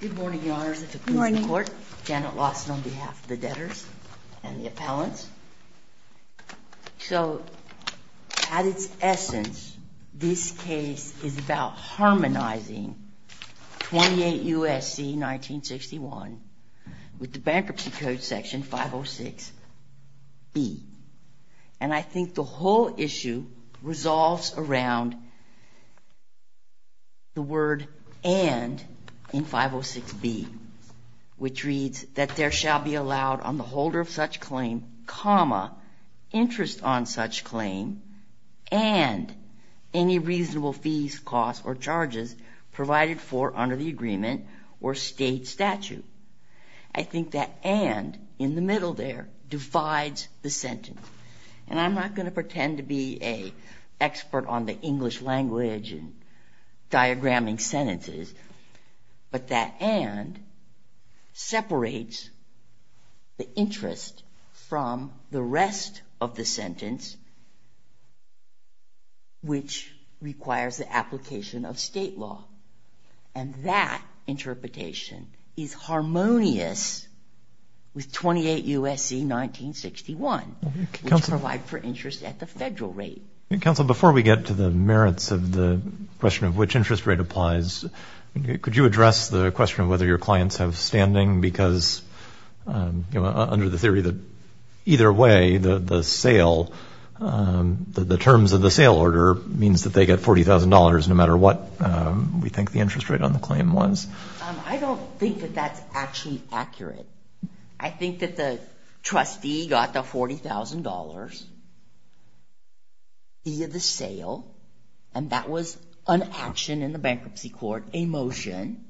Good morning, Your Honors. Janet Lawson on behalf of the debtors and the appellants. So, at its essence, this case is about harmonizing 28 U.S.C. 1961 with the Bankruptcy Code Section 506-B. And I think the whole issue resolves around the word and in 506-B, which reads, that there shall be allowed on the holder of such claim, comma, interest on such claim, and any reasonable fees, costs, or charges provided for under the agreement or state statute. I think that and, in the middle there, divides the sentence. And I'm not going to pretend to be an expert on the English language and diagramming sentences, but that and separates the interest from the rest of the sentence, which requires the application of state law. And that interpretation is harmonious with 28 U.S.C. 1961, which provides for interest at the federal rate. Counsel, before we get to the merits of the question of which interest rate applies, could you address the question of whether your clients have standing? Because under the theory that either way, the sale, the terms of the sale order, means that they get $40,000 no matter what we think the interest rate on the claim was. I don't think that that's actually accurate. I think that the trustee got the $40,000 via the sale, and that was an action in the bankruptcy court, a motion,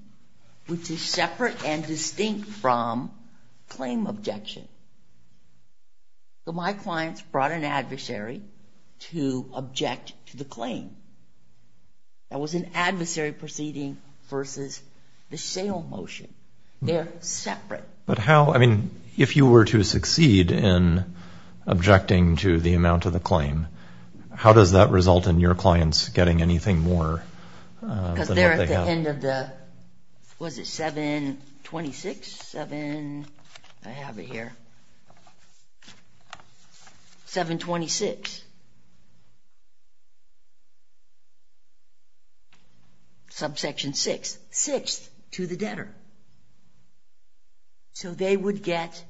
which is separate and distinct from claim objection. My clients brought an adversary to object to the claim. That was an adversary proceeding versus the sale motion. They're separate. But how, I mean, if you were to succeed in objecting to the amount of the claim, how does that result in your clients getting anything more than what they have? Was it 726? I have it here. 726, subsection 6, sixth to the debtor. So they would get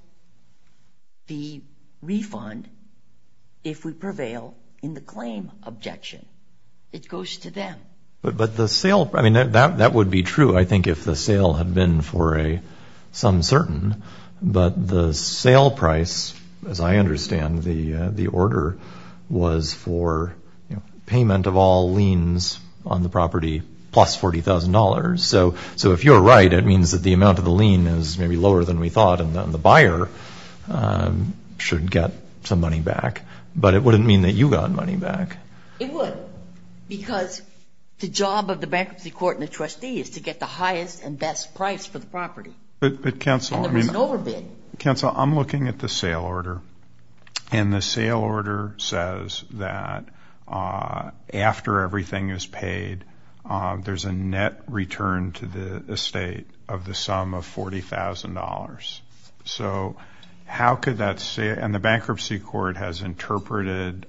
the refund if we prevail in the claim objection. It goes to them. But the sale, I mean, that would be true, I think, if the sale had been for some certain. But the sale price, as I understand the order, was for payment of all liens on the property plus $40,000. So if you're right, it means that the amount of the lien is maybe lower than we thought, and then the buyer should get some money back. But it wouldn't mean that you got money back. It would because the job of the bankruptcy court and the trustee is to get the highest and best price for the property. But, Counsel, I'm looking at the sale order, and the sale order says that after everything is paid, there's a net return to the estate of the sum of $40,000. So how could that say it? And the bankruptcy court has interpreted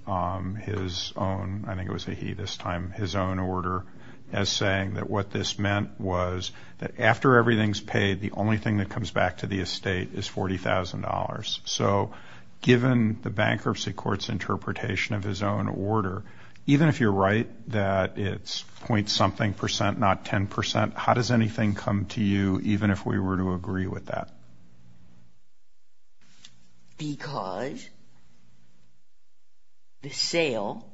his own, I think it was a he this time, his own order as saying that what this meant was that after everything is paid, the only thing that comes back to the estate is $40,000. So given the bankruptcy court's interpretation of his own order, even if you're right that it's point something percent, not 10 percent, how does anything come to you even if we were to agree with that? Because the sale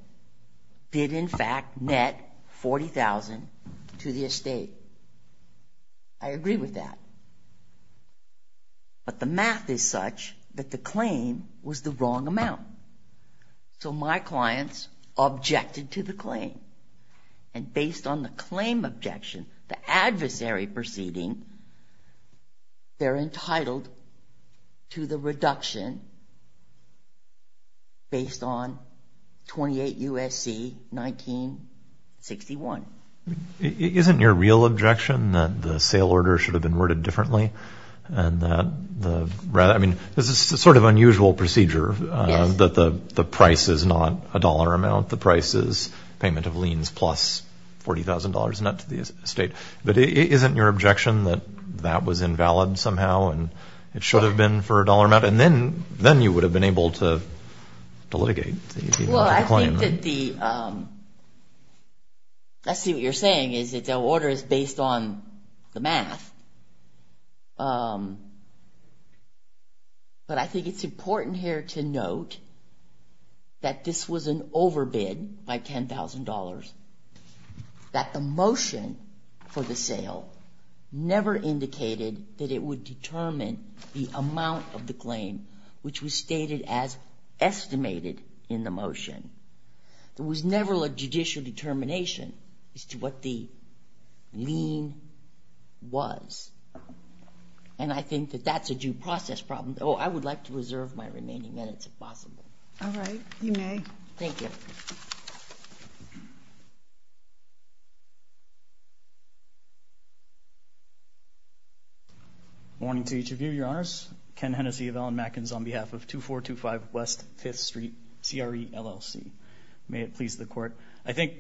did in fact net $40,000 to the estate. I agree with that. But the math is such that the claim was the wrong amount. So my clients objected to the claim. And based on the claim objection, the adversary proceeding, they're entitled to the reduction based on 28 U.S.C. 1961. Isn't your real objection that the sale order should have been worded differently? I mean, this is a sort of unusual procedure that the price is not a dollar amount. The price is payment of liens plus $40,000 not to the estate. But isn't your objection that that was invalid somehow and it should have been for a dollar amount? And then you would have been able to litigate the claim. Well, I think that the – I see what you're saying is that the order is based on the math. But I think it's important here to note that this was an overbid by $10,000, that the motion for the sale never indicated that it would determine the amount of the claim, which was stated as estimated in the motion. There was never a judicial determination as to what the lien was. And I think that that's a due process problem. Oh, I would like to reserve my remaining minutes if possible. Thank you. Ken Hennessey of Allen-Mackens, on behalf of 2425 West 5th Street, CRE, LLC. May it please the Court. I think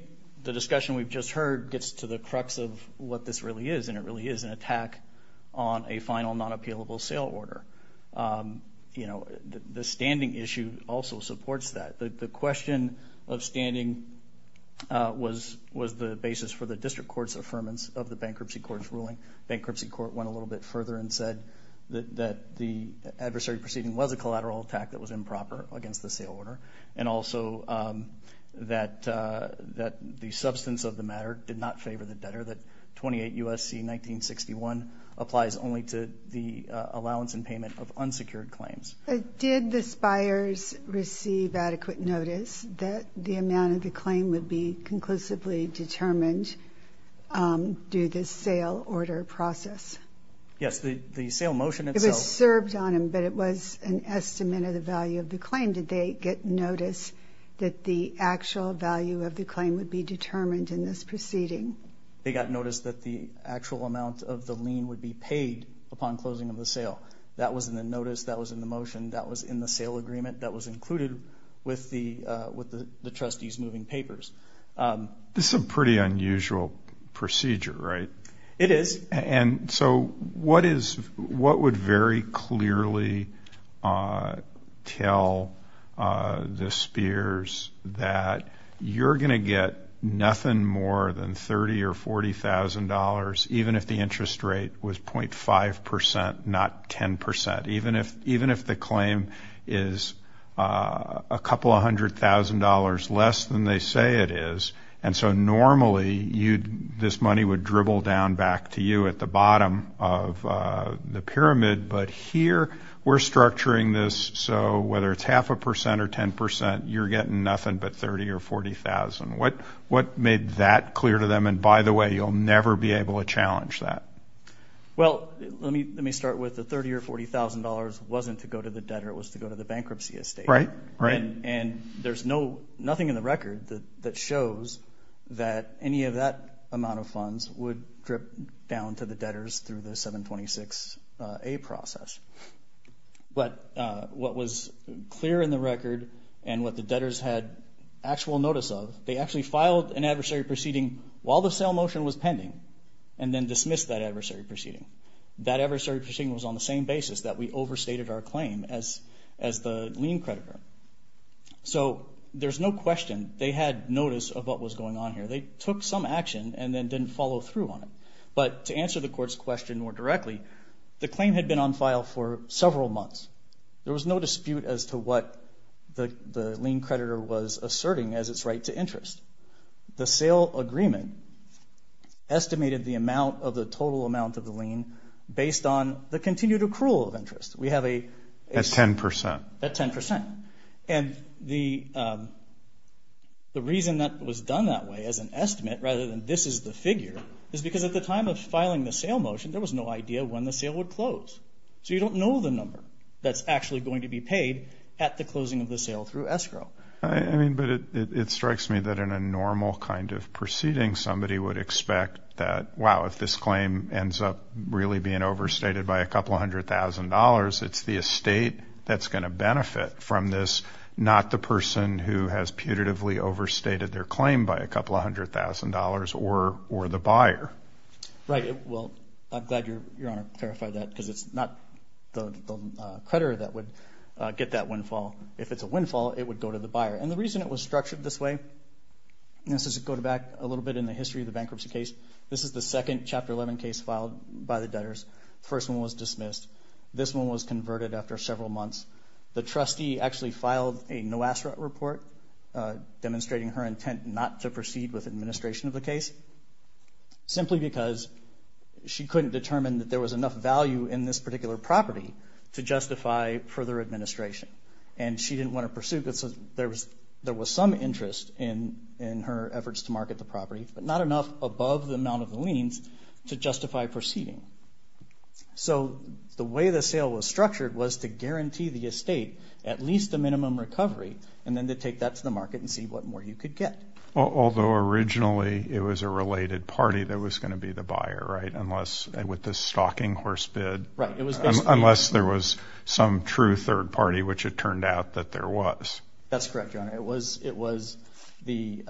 the discussion we've just heard gets to the crux of what this really is, and it really is an attack on a final non-appealable sale order. You know, the standing issue also supports that. The question of standing is not a question of standing. It was the basis for the district court's affirmance of the bankruptcy court's ruling. Bankruptcy court went a little bit further and said that the adversary proceeding was a collateral attack that was improper against the sale order, and also that the substance of the matter did not favor the debtor, that 28 U.S.C. 1961 applies only to the allowance and payment of unsecured claims. Did the spires receive adequate notice that the amount of the claim would be conclusively determined due to the sale order process? Yes, the sale motion itself. It was served on them, but it was an estimate of the value of the claim. Did they get notice that the actual value of the claim would be determined in this proceeding? They got notice that the actual amount of the lien would be paid upon closing of the sale. That was in the notice, that was in the motion, that was in the sale agreement, that was included with the trustee's moving papers. This is a pretty unusual procedure, right? It is. And so what would very clearly tell the spires that you're going to get nothing more than $30,000 or $40,000 even if the interest rate was .5 percent, not 10 percent, even if the claim is a couple hundred thousand dollars less than they say it is, and so normally this money would dribble down back to you at the bottom of the pyramid, but here we're structuring this so whether it's half a percent or 10 percent, you're getting nothing but $30,000 or $40,000. What made that clear to them? And, by the way, you'll never be able to challenge that. Well, let me start with the $30,000 or $40,000 wasn't to go to the debtor. It was to go to the bankruptcy estate. Right, right. And there's nothing in the record that shows that any of that amount of funds would drip down to the debtors through the 726A process. But what was clear in the record and what the debtors had actual notice of, they actually filed an adversary proceeding while the sale motion was pending and then dismissed that adversary proceeding. That adversary proceeding was on the same basis that we overstated our claim as the lien creditor. So there's no question they had notice of what was going on here. They took some action and then didn't follow through on it. But to answer the court's question more directly, the claim had been on file for several months. There was no dispute as to what the lien creditor was asserting as its right to interest. The sale agreement estimated the total amount of the lien based on the continued accrual of interest. At 10 percent. At 10 percent. And the reason that was done that way as an estimate rather than this is the figure is because at the time of filing the sale motion, there was no idea when the sale would close. So you don't know the number that's actually going to be paid at the closing of the sale through escrow. I mean, but it strikes me that in a normal kind of proceeding, somebody would expect that, wow, if this claim ends up really being overstated by a couple hundred thousand dollars, it's the estate that's going to benefit from this, not the person who has putatively overstated their claim by a couple hundred thousand dollars or the buyer. Right. Well, I'm glad Your Honor clarified that because it's not the creditor that would get that windfall. If it's a windfall, it would go to the buyer. And the reason it was structured this way, this goes back a little bit in the history of the bankruptcy case. This is the second Chapter 11 case filed by the debtors. The first one was dismissed. This one was converted after several months. The trustee actually filed a no-asset report demonstrating her intent not to proceed with administration of the case, simply because she couldn't determine that there was enough value in this particular property to justify further administration. And she didn't want to pursue it because there was some interest in her efforts to market the property, but not enough above the amount of the liens to justify proceeding. So the way the sale was structured was to guarantee the estate at least a minimum recovery and then to take that to the market and see what more you could get. Although originally it was a related party that was going to be the buyer, right, with the stocking horse bid, unless there was some true third party, which it turned out that there was. That's correct, Your Honor. It was the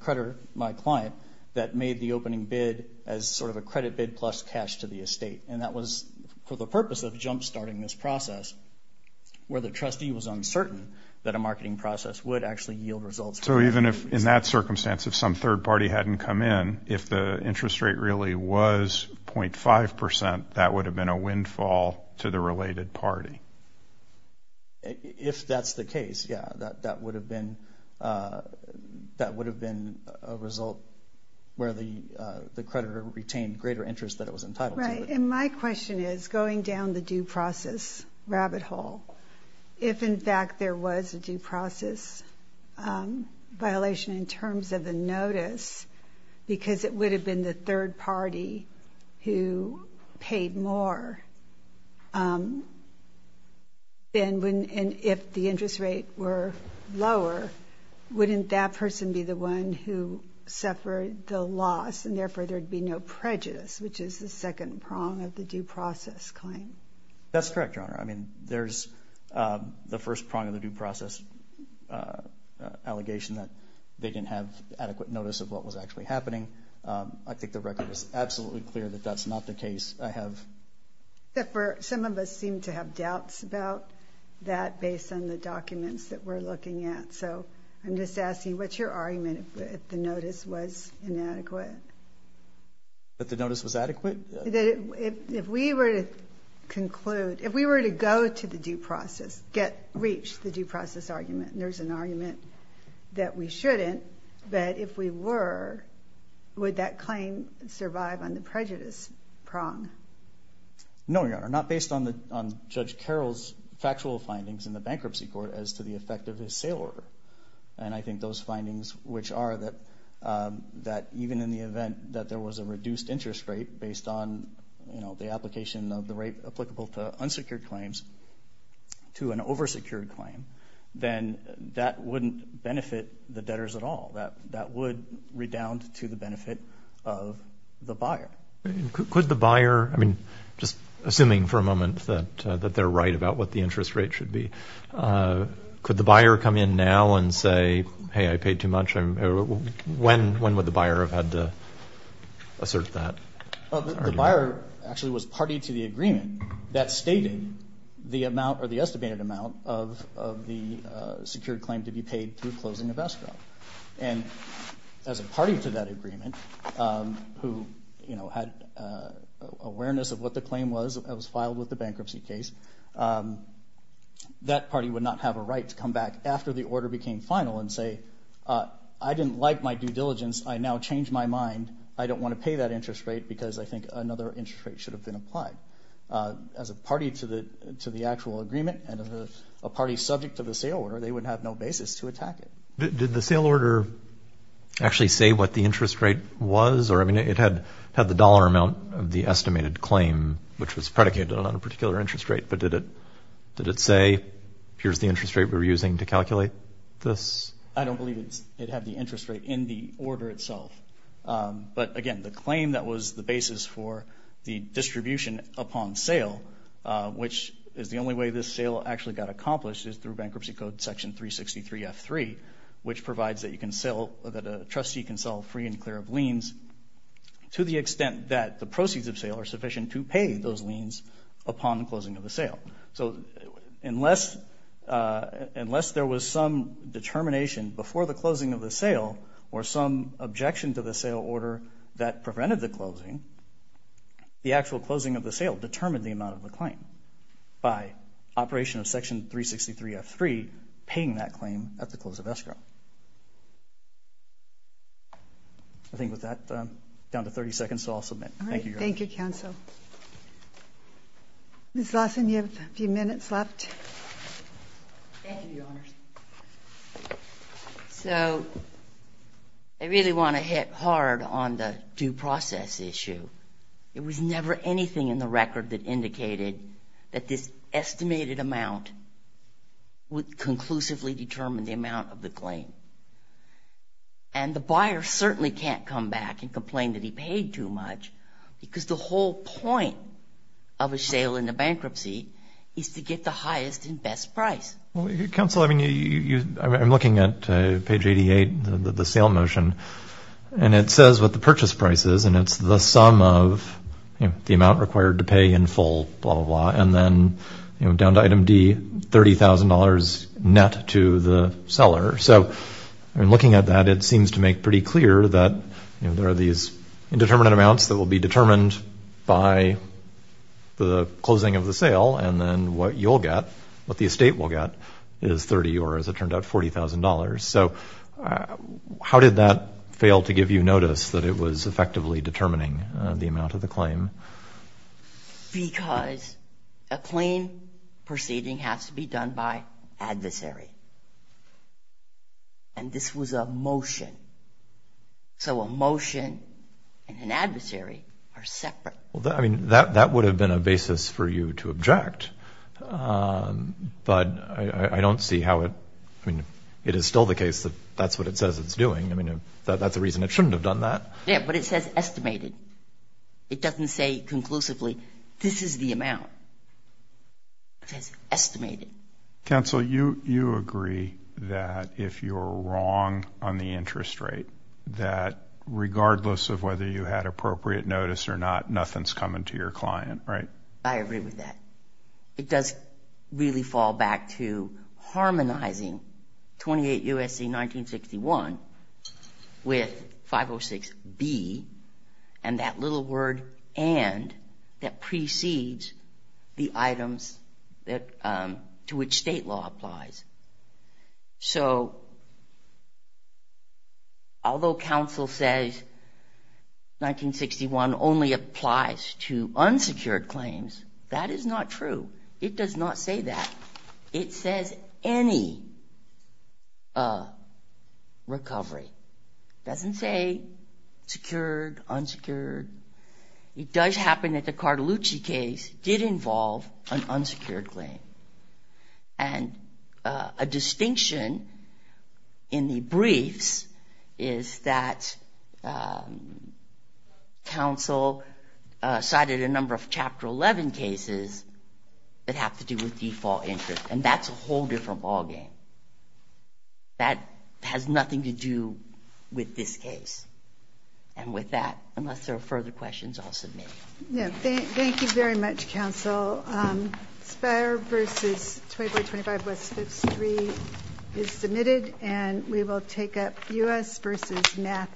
creditor, my client, that made the opening bid as sort of a credit bid plus cash to the estate. And that was for the purpose of jump-starting this process, where the trustee was uncertain that a marketing process would actually yield results. So even if, in that circumstance, if some third party hadn't come in, if the interest rate really was 0.5 percent, that would have been a windfall to the related party? If that's the case, yeah. That would have been a result where the creditor retained greater interest than it was entitled to. Right. And my question is, going down the due process rabbit hole, if, in fact, there was a due process violation in terms of the notice, because it would have been the third party who paid more, then if the interest rate were lower, wouldn't that person be the one who suffered the loss, and therefore there would be no prejudice, which is the second prong of the due process claim? That's correct, Your Honor. I mean, there's the first prong of the due process allegation, that they didn't have adequate notice of what was actually happening. I think the record is absolutely clear that that's not the case. Some of us seem to have doubts about that based on the documents that we're looking at. So I'm just asking, what's your argument if the notice was inadequate? That the notice was adequate? If we were to conclude, if we were to go to the due process, reach the due process argument, there's an argument that we shouldn't. But if we were, would that claim survive on the prejudice prong? No, Your Honor, not based on Judge Carroll's factual findings in the bankruptcy court as to the effect of his sale order. And I think those findings, which are that even in the event that there was a reduced interest rate based on the application of the rate applicable to unsecured claims to an oversecured claim, then that wouldn't benefit the debtors at all. That would redound to the benefit of the buyer. Could the buyer, I mean, just assuming for a moment that they're right about what the interest rate should be, could the buyer come in now and say, hey, I paid too much? When would the buyer have had to assert that? The buyer actually was party to the agreement that stated the amount or the estimated amount of the secured claim to be paid through closing of escrow. And as a party to that agreement who had awareness of what the claim was that was filed with the bankruptcy case, that party would not have a right to come back after the order became final and say, I didn't like my due diligence. I now change my mind. I don't want to pay that interest rate because I think another interest rate should have been applied. As a party to the actual agreement and as a party subject to the sale order, they would have no basis to attack it. Did the sale order actually say what the interest rate was? Or, I mean, it had the dollar amount of the estimated claim, which was predicated on a particular interest rate. But did it say, here's the interest rate we're using to calculate this? I don't believe it had the interest rate in the order itself. But, again, the claim that was the basis for the distribution upon sale, which is the only way this sale actually got accomplished, is through Bankruptcy Code Section 363F3, which provides that a trustee can sell free and clear of liens to the extent that the proceeds of sale are sufficient to pay those liens upon closing of the sale. So unless there was some determination before the closing of the sale or some objection to the sale order that prevented the closing, the actual closing of the sale determined the amount of the claim by Operation of Section 363F3 paying that claim at the close of escrow. I think with that, down to 30 seconds, so I'll submit. Thank you, Your Honor. Thank you, Counsel. Ms. Lawson, you have a few minutes left. Thank you, Your Honors. So I really want to hit hard on the due process issue. It was never anything in the record that indicated that this estimated amount would conclusively determine the amount of the claim. And the buyer certainly can't come back and complain that he paid too much because the whole point of a sale in a bankruptcy is to get the highest and best price. Counsel, I'm looking at page 88, the sale motion, and it says what the purchase price is, and it's the sum of the amount required to pay in full, blah, blah, blah, and then down to item D, $30,000 net to the seller. So in looking at that, it seems to make pretty clear that there are these indeterminate amounts that will be determined by the closing of the sale, and then what you'll get, what the estate will get, is $30,000 or, as it turned out, $40,000. So how did that fail to give you notice that it was effectively determining the amount of the claim? Because a claim proceeding has to be done by adversary. And this was a motion. So a motion and an adversary are separate. Well, I mean, that would have been a basis for you to object, but I don't see how it – I mean, it is still the case that that's what it says it's doing. I mean, that's a reason it shouldn't have done that. Yeah, but it says estimated. It doesn't say conclusively, this is the amount. It says estimated. Counsel, you agree that if you're wrong on the interest rate, that regardless of whether you had appropriate notice or not, nothing's coming to your client, right? I agree with that. It does really fall back to harmonizing 28 U.S.C. 1961 with 506B and that little word and that precedes the items to which state law applies. So although counsel says 1961 only applies to unsecured claims, that is not true. It does not say that. It says any recovery. It doesn't say secured, unsecured. It does happen that the Cartolucci case did involve an unsecured claim. And a distinction in the briefs is that counsel cited a number of Chapter 11 cases that have to do with default interest, and that's a whole different ballgame. That has nothing to do with this case. And with that, unless there are further questions, I'll submit. Yeah, thank you very much, counsel. Spire v. 25 West 53 is submitted, and we will take up U.S. v. NACA.